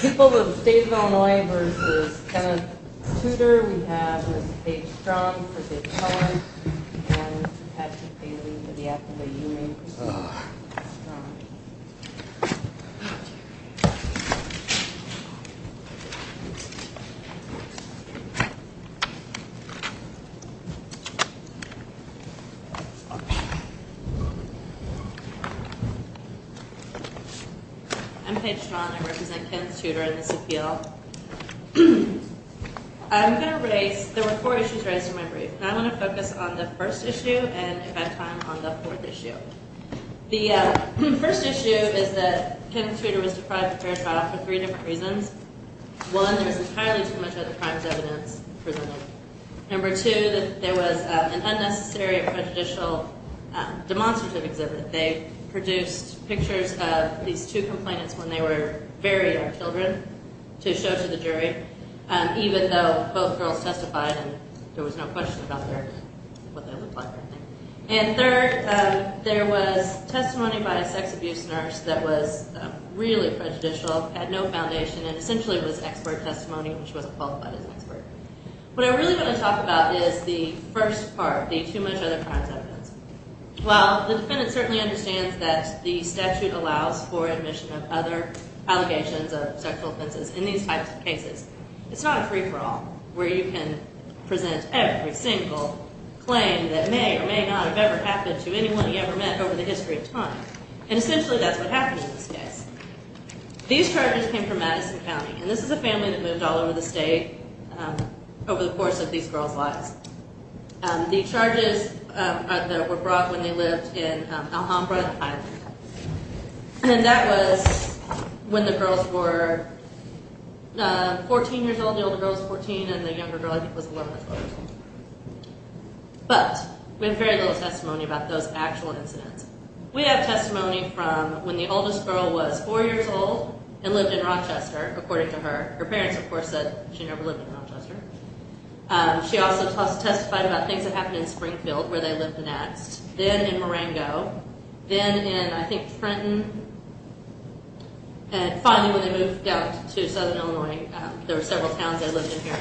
People of the State of Illinois v. Kenneth Tudor, we have Ms. Paige Straughn for Big Challenge, and Ms. Patsy Paley for the Act of the Union. I'm Paige Straughn. I represent Kenneth Tudor in this appeal. So, I'm going to raise, there were four issues raised in my brief, and I'm going to focus on the first issue and, if I have time, on the fourth issue. The first issue is that Kenneth Tudor was deprived of fair trial for three different reasons. One, there was entirely too much other crimes evidence presented. Number two, there was an unnecessary and prejudicial demonstrative exhibit. They produced pictures of these two complainants when they were very young children to show to the jury, even though both girls testified and there was no question about what they looked like. And third, there was testimony by a sex abuse nurse that was really prejudicial, had no foundation, and essentially was expert testimony when she wasn't qualified as an expert. What I really want to talk about is the first part, the too much other crimes evidence. While the defendant certainly understands that the statute allows for admission of other allegations of sexual offenses in these types of cases, it's not a free-for-all where you can present every single claim that may or may not have ever happened to anyone you ever met over the history of time. And essentially that's what happened in this case. These charges came from Madison County, and this is a family that moved all over the state over the course of these girls' lives. The charges that were brought when they lived in Alhambra, and that was when the girls were 14 years old, the older girl was 14 and the younger girl, I think, was 11 or 12 years old. But we have very little testimony about those actual incidents. We have testimony from when the oldest girl was 4 years old and lived in Rochester, according to her. Her parents, of course, said she never lived in Rochester. She also testified about things that happened in Springfield, where they lived and asked. Then in Marengo. Then in, I think, Trenton. And finally when they moved out to Southern Illinois, there were several towns they lived in here,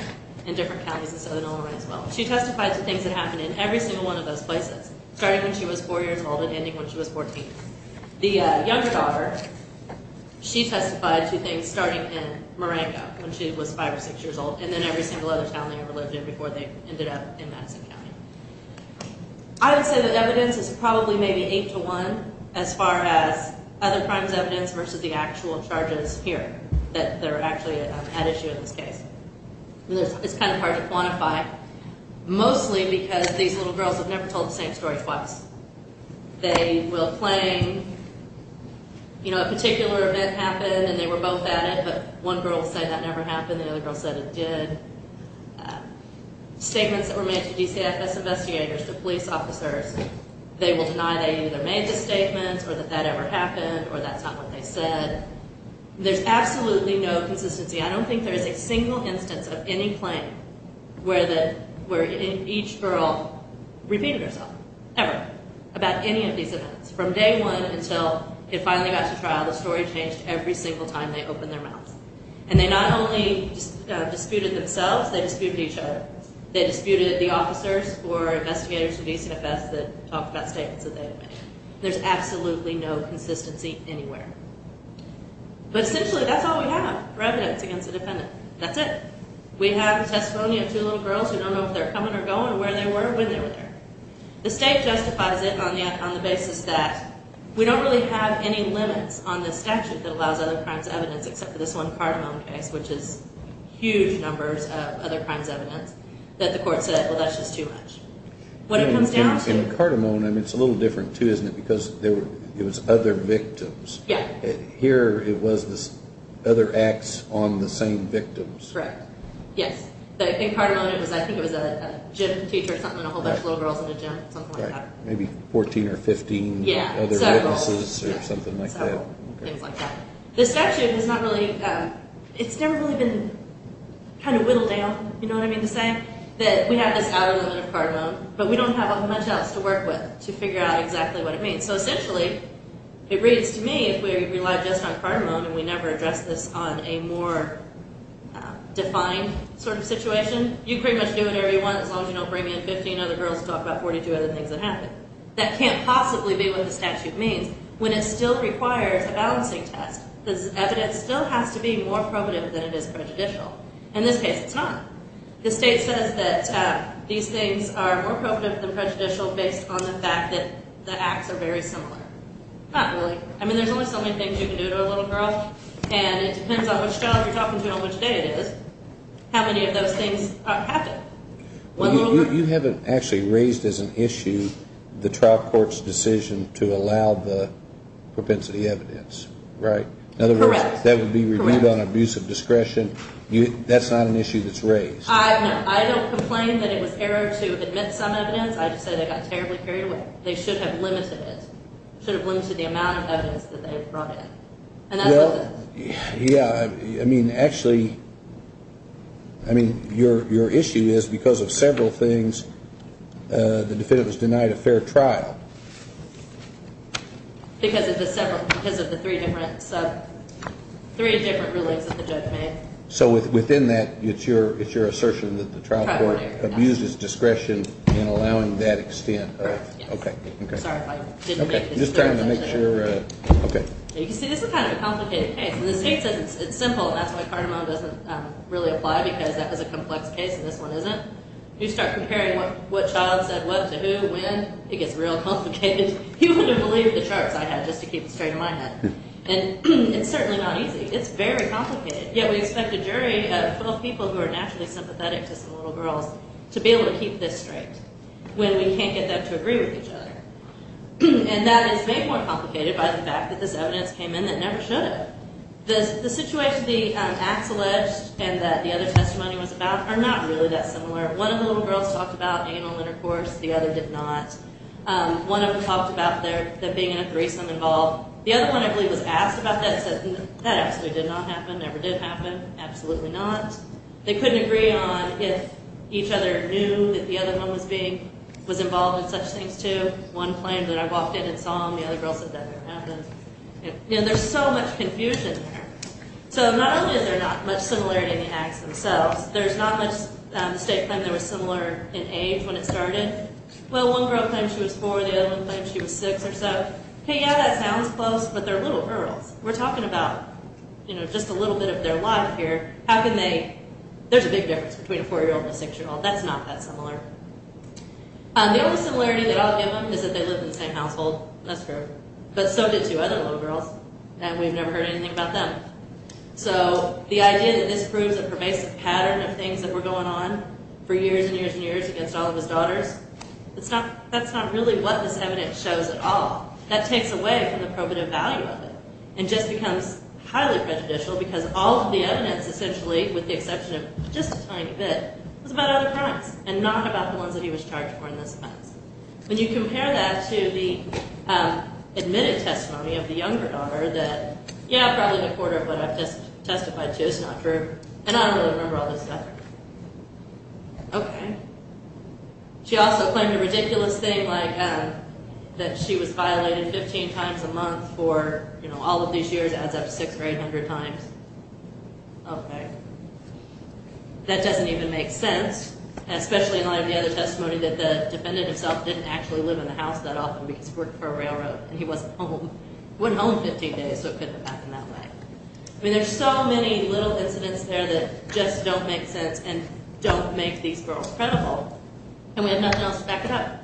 in different counties in Southern Illinois as well. She testified to things that happened in every single one of those places, starting when she was 4 years old and ending when she was 14. The youngest daughter, she testified to things starting in Marengo when she was 5 or 6 years old, and then every single other town they ever lived in before they ended up in Madison County. I would say the evidence is probably maybe 8 to 1 as far as other crimes evidence versus the actual charges here that are actually at issue in this case. It's kind of hard to quantify, mostly because these little girls have never told the same story twice. They will claim, you know, a particular event happened and they were both at it, but one girl said that never happened, the other girl said it did. Statements that were made to DCFS investigators, to police officers, they will deny they either made the statements or that that ever happened or that's not what they said. There's absolutely no consistency. I don't think there's a single instance of any claim where each girl repeated herself, ever, about any of these events. From day one until it finally got to trial, the story changed every single time they opened their mouths. And they not only disputed themselves, they disputed each other. They disputed the officers or investigators at DCFS that talked about statements that they had made. There's absolutely no consistency anywhere. But essentially, that's all we have for evidence against the defendant. That's it. We have testimony of two little girls who don't know if they're coming or going, where they were, when they were there. The state justifies it on the basis that we don't really have any limits on the statute that allows other crimes evidence except for this one Cardamone case, which is huge numbers of other crimes evidence, that the court said, well, that's just too much. In Cardamone, it's a little different too, isn't it, because it was other victims. Here it was other acts on the same victims. Correct. Yes. In Cardamone, I think it was a gym teacher or something, a whole bunch of little girls in a gym, something like that. Maybe 14 or 15 other witnesses or something like that. The statute has not really, it's never really been kind of whittled down, you know what I mean, to say that we have this outer limit of Cardamone, but we don't have much else to work with to figure out exactly what it means. So essentially, it reads to me if we rely just on Cardamone and we never address this on a more defined sort of situation, you pretty much do whatever you want as long as you don't bring in 15 other girls to talk about 42 other things that happened. That can't possibly be what the statute means when it still requires a balancing test. This evidence still has to be more probative than it is prejudicial. In this case, it's not. The state says that these things are more probative than prejudicial based on the fact that the acts are very similar. Not really. I mean, there's only so many things you can do to a little girl, and it depends on which job you're talking to and on which day it is, how many of those things happen. You haven't actually raised as an issue the trial court's decision to allow the propensity evidence, right? In other words, that would be reviewed on abuse of discretion. That's not an issue that's raised. I don't complain that it was error to admit some evidence. I just say they got terribly carried away. They should have limited it, should have limited the amount of evidence that they brought in. Yeah, I mean, actually, I mean, your issue is because of several things, the defendant was denied a fair trial. Because of the three different rulings that the judge made. So within that, it's your assertion that the trial court abuses discretion in allowing that extent. Correct, yes. Okay, okay. Sorry if I didn't make this clear. I'm just trying to make sure. Okay. You can see this is kind of a complicated case. When the state says it's simple, that's why Cardamone doesn't really apply because that was a complex case and this one isn't. You start comparing what child said what to who, when, it gets real complicated. You wouldn't believe the charts I had just to keep it straight in my head. And it's certainly not easy. It's very complicated. Yet we expect a jury of 12 people who are naturally sympathetic to some little girls to be able to keep this straight when we can't get them to agree with each other. And that is made more complicated by the fact that this evidence came in that never should have. The situation the acts alleged and that the other testimony was about are not really that similar. One of the little girls talked about anal intercourse. The other did not. One of them talked about their being in a threesome involved. The other one, I believe, was asked about that and said that absolutely did not happen, never did happen. Absolutely not. They couldn't agree on if each other knew that the other one was involved in such things, too. One claimed that I walked in and saw him. The other girl said that never happened. There's so much confusion there. So not only are they not much similar in the acts themselves, there's not much state claim they were similar in age when it started. Well, one girl claimed she was four. The other one claimed she was six or so. Hey, yeah, that sounds close, but they're little girls. We're talking about just a little bit of their life here. There's a big difference between a four-year-old and a six-year-old. That's not that similar. The only similarity that I'll give them is that they live in the same household. That's true. But so did two other little girls, and we've never heard anything about them. So the idea that this proves a pervasive pattern of things that were going on for years and years and years against all of his daughters, that's not really what this evidence shows at all. That takes away from the probative value of it and just becomes highly prejudicial because all of the evidence essentially, with the exception of just a tiny bit, was about other crimes and not about the ones that he was charged for in this offense. When you compare that to the admitted testimony of the younger daughter that, yeah, probably a quarter of what I've just testified to is not true, and I don't really remember all this stuff. Okay. She also claimed a ridiculous thing like that she was violated 15 times a month for all of these years, adds up to 600 or 800 times. Okay. That doesn't even make sense, especially in light of the other testimony that the defendant himself didn't actually live in the house that often because he worked for a railroad, and he wasn't home. He went home 15 days, so it couldn't have happened that way. I mean, there's so many little incidents there that just don't make sense and don't make these girls credible, and we have nothing else to back it up.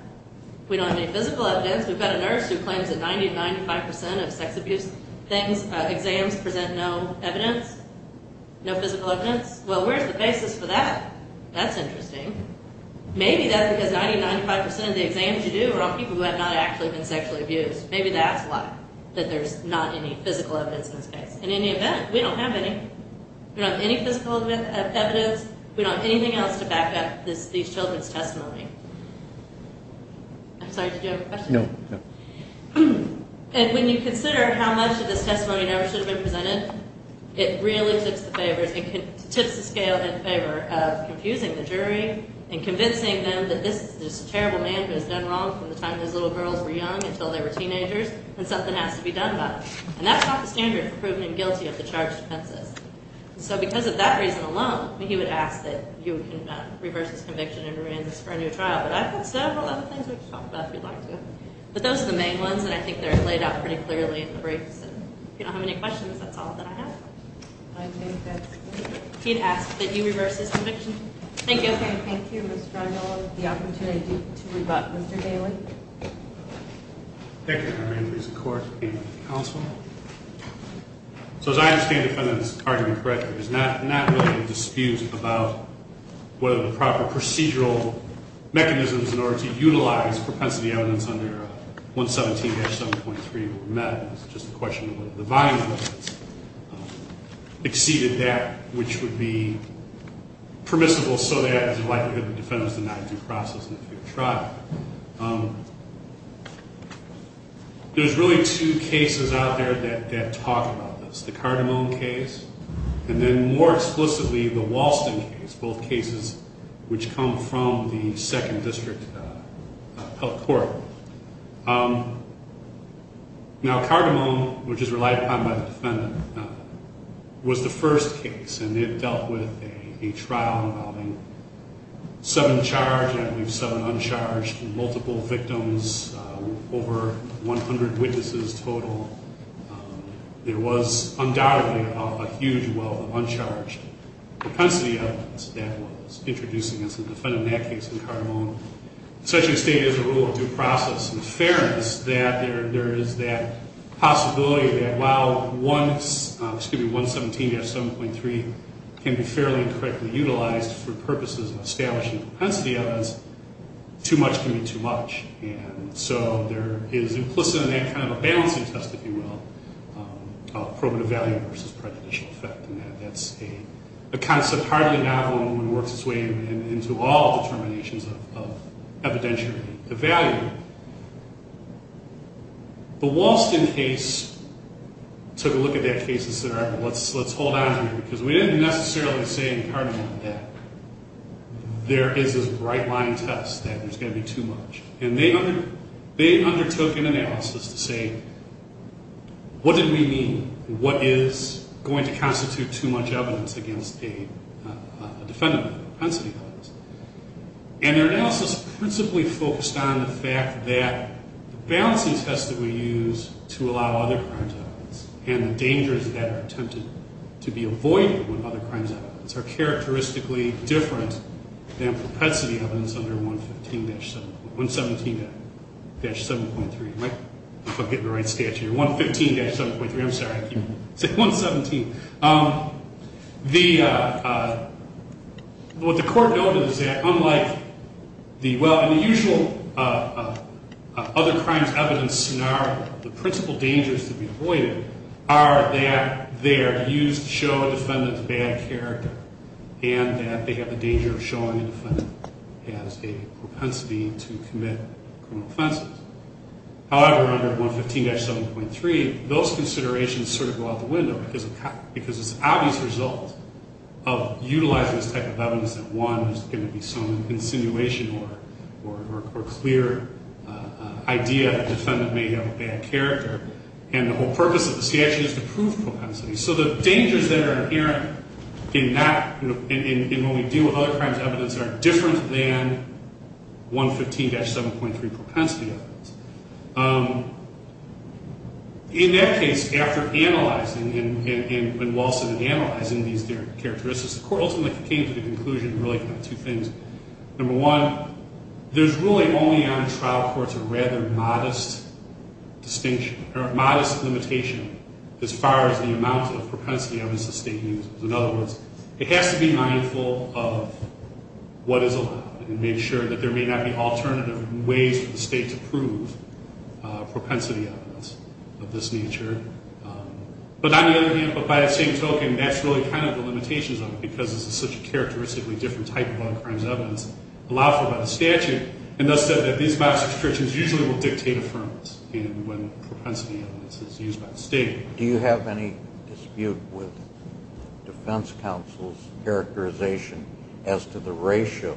We don't have any physical evidence. We've got a nurse who claims that 90% to 95% of sex abuse things, exams, present no evidence, no physical evidence. Well, where's the basis for that? That's interesting. Maybe that's because 90% to 95% of the exams you do are on people who have not actually been sexually abused. Maybe that's why, that there's not any physical evidence in this case. In any event, we don't have any. We don't have any physical evidence. We don't have anything else to back up these children's testimony. I'm sorry, did you have a question? No. When you consider how much of this testimony never should have been presented, it really tips the scale in favor of confusing the jury and convincing them that this is just a terrible man who has done wrong from the time his little girls were young until they were teenagers and something has to be done about it. And that's not the standard for proving him guilty of the charged offenses. So because of that reason alone, he would ask that you reverse his conviction and remand this for a new trial. But I've got several other things we could talk about if you'd like to. But those are the main ones, and I think they're laid out pretty clearly in the briefs. If you don't have any questions, that's all that I have. I think that's it. He'd ask that you reverse his conviction. Thank you. Okay, thank you, Ms. Drondala, for the opportunity to rebut Mr. Daly. Thank you, Your Honor. I raise the court and counsel. So as I understand the defendant's argument correctly, there's not really a dispute about whether the proper procedural mechanisms in order to utilize propensity evidence under 117-7.3 were met. It's just a question of whether the volume of evidence exceeded that which would be permissible so that there's a likelihood the defendant's denied due process in a future trial. There's really two cases out there that talk about this, the Cardamone case and then more explicitly the Walston case, both cases which come from the Second District Health Court. Now, Cardamone, which is relied upon by the defendant, was the first case, and it dealt with a trial involving seven charged and seven uncharged, multiple victims, over 100 witnesses total. There was undoubtedly a huge wealth of uncharged propensity evidence that was introduced against the defendant in that case in Cardamone. Such a state has a rule of due process and fairness that there is that possibility that while 117-7.3 can be fairly and correctly utilized for purposes of establishing propensity evidence, too much can be too much. And so there is implicit in that kind of a balancing test, if you will, of probative value versus prejudicial effect, and that's a concept hardly available when one works its way into all determinations of evidentiary value. The Walston case took a look at that case and said, all right, let's hold on to it because we didn't necessarily say in Cardamone that there is this right-line test that there's going to be too much. And they undertook an analysis to say, what did we mean? What is going to constitute too much evidence against a defendant with propensity evidence? And their analysis principally focused on the fact that the balancing test that we use to allow other crimes evidence and the dangers that are attempted to be avoided with other crimes evidence are characteristically different than propensity evidence under 117-7.3. I hope I'm getting the right stat here. 115-7.3. I'm sorry. I keep saying 117. What the court noted is that unlike the usual other crimes evidence scenario, the principal dangers to be avoided are that they are used to show a defendant's bad character and that they have a danger of showing a defendant has a propensity to commit criminal offenses. However, under 115-7.3, those considerations sort of go out the window because it's an obvious result of utilizing this type of evidence that, one, there's going to be some insinuation or clear idea that the defendant may have a bad character. And the whole purpose of the statute is to prove propensity. So the dangers that are inherent in when we deal with other crimes evidence are different than 115-7.3 propensity evidence. In that case, after analyzing and Wilson had analyzed these characteristics, the court ultimately came to the conclusion, really, of two things. Number one, there's really only on a trial court a rather modest distinction or a modest limitation as far as the amount of propensity evidence the state uses. In other words, it has to be mindful of what is allowed and make sure that there may not be alternative ways for the state to prove propensity evidence of this nature. But on the other hand, but by the same token, that's really kind of the limitations of it because this is such a characteristically different type of other crimes evidence allowed for by the statute, and thus said that these modest restrictions usually will dictate affirmance. And when propensity evidence is used by the state... Do you have any dispute with defense counsel's characterization as to the ratio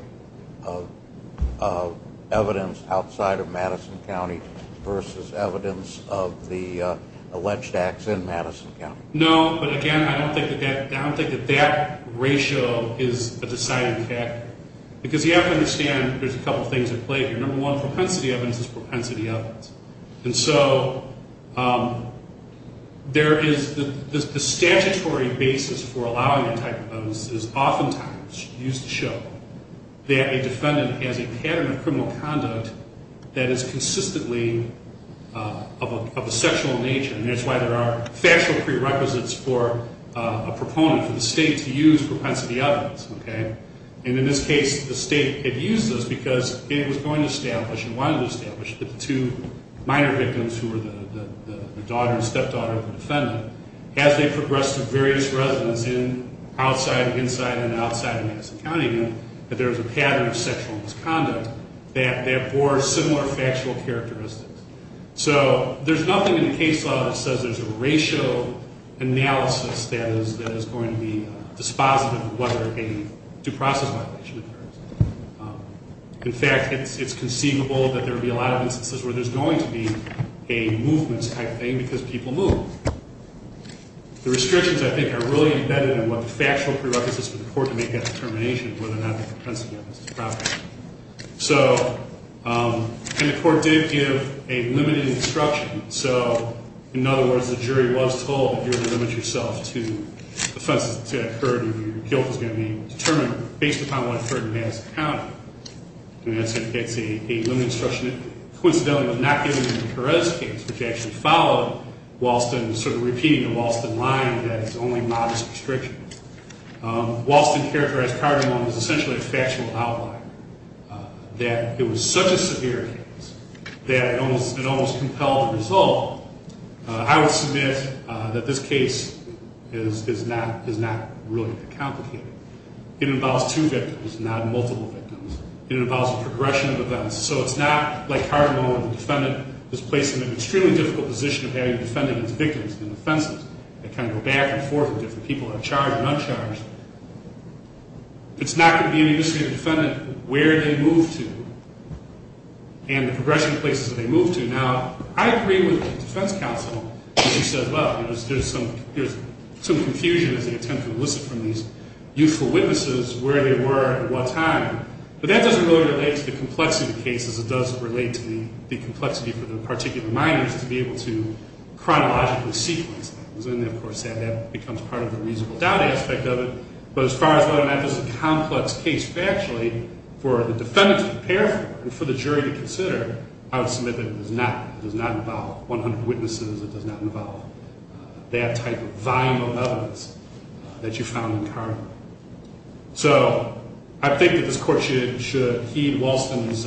of evidence outside of Madison County versus evidence of the alleged acts in Madison County? No, but again, I don't think that that ratio is a deciding factor because you have to understand there's a couple things at play here. Number one, propensity evidence is propensity evidence. And so the statutory basis for allowing that type of evidence is oftentimes used to show that a defendant has a pattern of criminal conduct that is consistently of a sexual nature, and that's why there are factual prerequisites for a proponent for the state to use propensity evidence. And in this case, the state had used this because it was going to establish and wanted to establish that the two minor victims who were the daughter and stepdaughter of the defendant, as they progressed to various residences outside, inside, and outside of Madison County, that there was a pattern of sexual misconduct that bore similar factual characteristics. So there's nothing in the case law that says there's a ratio analysis that is going to be dispositive of whether a due process violation occurs. In fact, it's conceivable that there would be a lot of instances where there's going to be a movements type thing because people move. The restrictions, I think, are really embedded in what the factual prerequisites for the court to make that determination of whether or not the propensity evidence is proper. So, and the court did give a limited instruction. So, in other words, the jury was told that you're going to limit yourself to offenses that occurred and your guilt is going to be determined based upon what occurred in Madison County. And that's a limited instruction that, coincidentally, was not given in Perez's case, which actually followed Walston, sort of repeating the Walston line that it's only modest restrictions. Walston characterized Cardinal Mone as essentially a factual outlier, that it was such a severe case that it almost compelled the result. I would submit that this case is not really that complicated. It involves two victims, not multiple victims. It involves a progression of events. So it's not like Cardinal Mone, the defendant, is placed in an extremely difficult position of having to defend against victims and offenses that kind of go back and forth and different people are charged and uncharged. It's not going to be any use to the defendant where they move to and the progression of places that they move to. Now, I agree with the defense counsel when she says, well, there's some confusion as they attempt to elicit from these youthful witnesses where they were at what time. But that doesn't really relate to the complexity of the case as it does relate to the complexity for the particular minors to be able to chronologically sequence that. That becomes part of the reasonable doubt aspect of it. But as far as whether or not this is a complex case factually, for the defendant to prepare for and for the jury to consider, I would submit that it does not involve 100 witnesses. It does not involve that type of volume of evidence that you found in Cardinal. So I think that this Court should heed Walston's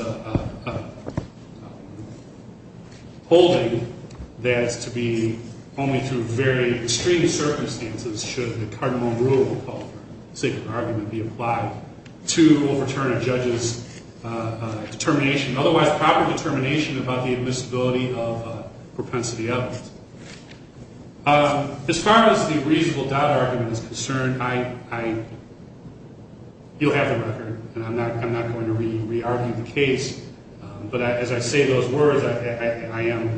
holding that it's to be only through very extreme circumstances should the Cardinal Rule, called the Sacred Argument, be applied to overturn a judge's determination, otherwise proper determination, about the admissibility of propensity evidence. As far as the reasonable doubt argument is concerned, you'll have the record and I'm not going to re-argue the case. But as I say those words, I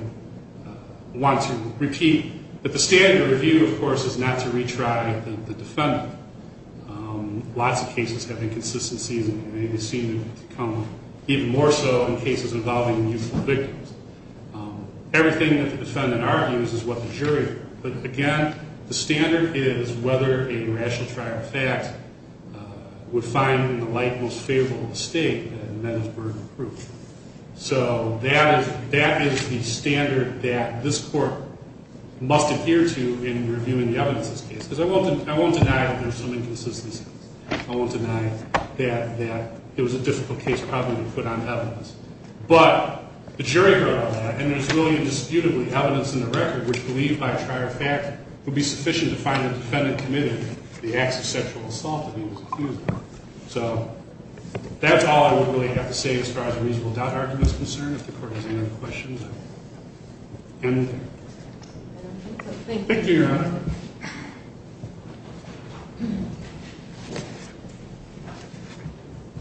want to repeat that the standard review, of course, is not to retry the defendant. Lots of cases have inconsistencies and they seem to come even more so in cases involving youthful victims. Everything that the defendant argues is what the jury argues. But again, the standard is whether a rational trial fact would find the light most favorable to the state and that is burden of proof. So that is the standard that this Court must adhere to in reviewing the evidence of this case. Because I won't deny that there's some inconsistencies. I won't deny that it was a difficult case probably to put on evidence. But the jury heard all that and there's really indisputably evidence in the record which believed by a trial fact would be sufficient to find the defendant committed the acts of sexual assault that he was accused of. So that's all I would really have to say as far as the reasonable doubt argument is concerned. If the Court has any other questions, I will end there. Thank you, Your Honor.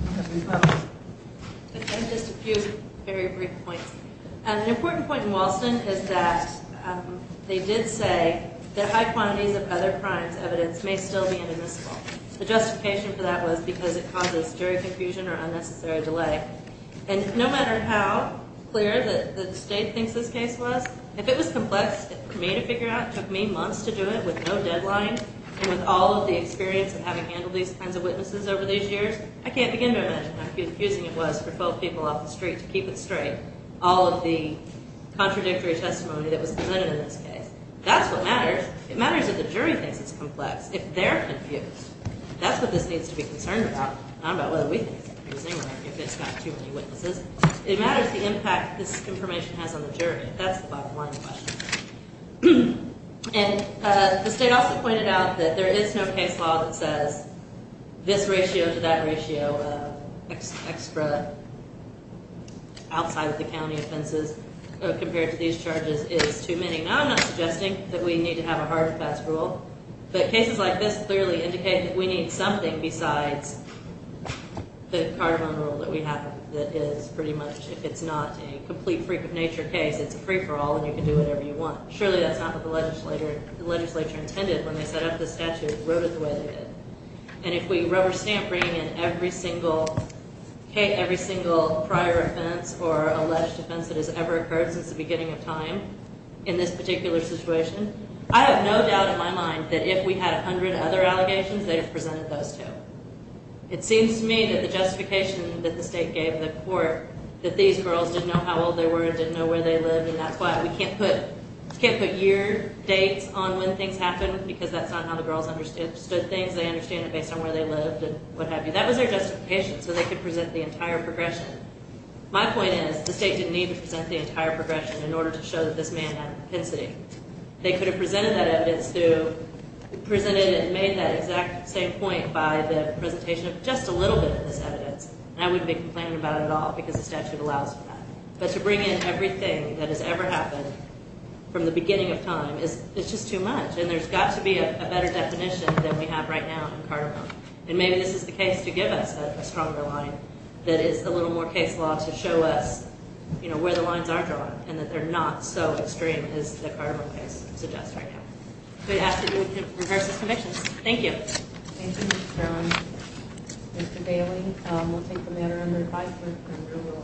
I have just a few very brief points. An important point in Walston is that they did say that high quantities of other crimes evidence may still be inadmissible. The justification for that was because it causes jury confusion or unnecessary delay. And no matter how clear the state thinks this case was, if it was complex for me to figure out, it took me months to do it with no deadline and with all of the experience of having handled these kinds of witnesses over these years, I can't begin to imagine how confusing it was for both people off the street to keep it straight, all of the contradictory testimony that was presented in this case. That's what matters. It matters if the jury thinks it's complex. If they're confused, that's what this needs to be concerned about, not about whether we think it's confusing or if it's not too many witnesses. It matters the impact this information has on the jury. That's the bottom line of the question. And the state also pointed out that there is no case law that says this ratio to that ratio of extra outside of the county offenses compared to these charges is too many. Now, I'm not suggesting that we need to have a hard and fast rule, but cases like this clearly indicate that we need something besides the cardinal rule that we have that is pretty much, if it's not a complete freak of nature case, it's a free-for-all and you can do whatever you want. Surely that's not what the legislature intended when they set up this statute and wrote it the way they did. And if we rubber stamp bringing in every single prior offense or alleged offense that has ever occurred since the beginning of time in this particular situation, I have no doubt in my mind that if we had 100 other allegations, they'd have presented those too. It seems to me that the justification that the state gave the court that these girls didn't know how old they were, didn't know where they lived, and that's why we can't put year dates on when things happened because that's not how the girls understood things. They understand it based on where they lived and what have you. That was their justification so they could present the entire progression. My point is the state didn't need to present the entire progression in order to show that this man had propensity. They could have presented that evidence and made that exact same point by the presentation of just a little bit of this evidence. And I wouldn't be complaining about it at all because the statute allows for that. But to bring in everything that has ever happened from the beginning of time is just too much. And there's got to be a better definition than we have right now in Cardinal. And maybe this is the case to give us a stronger line that is a little more case law to show us where the lines are drawn and that they're not so extreme as the Cardinal case suggests right now. We have to rehearse this conviction. Thank you. Thank you, Mr. Sterling. Mr. Bailey, we'll take the matter under review.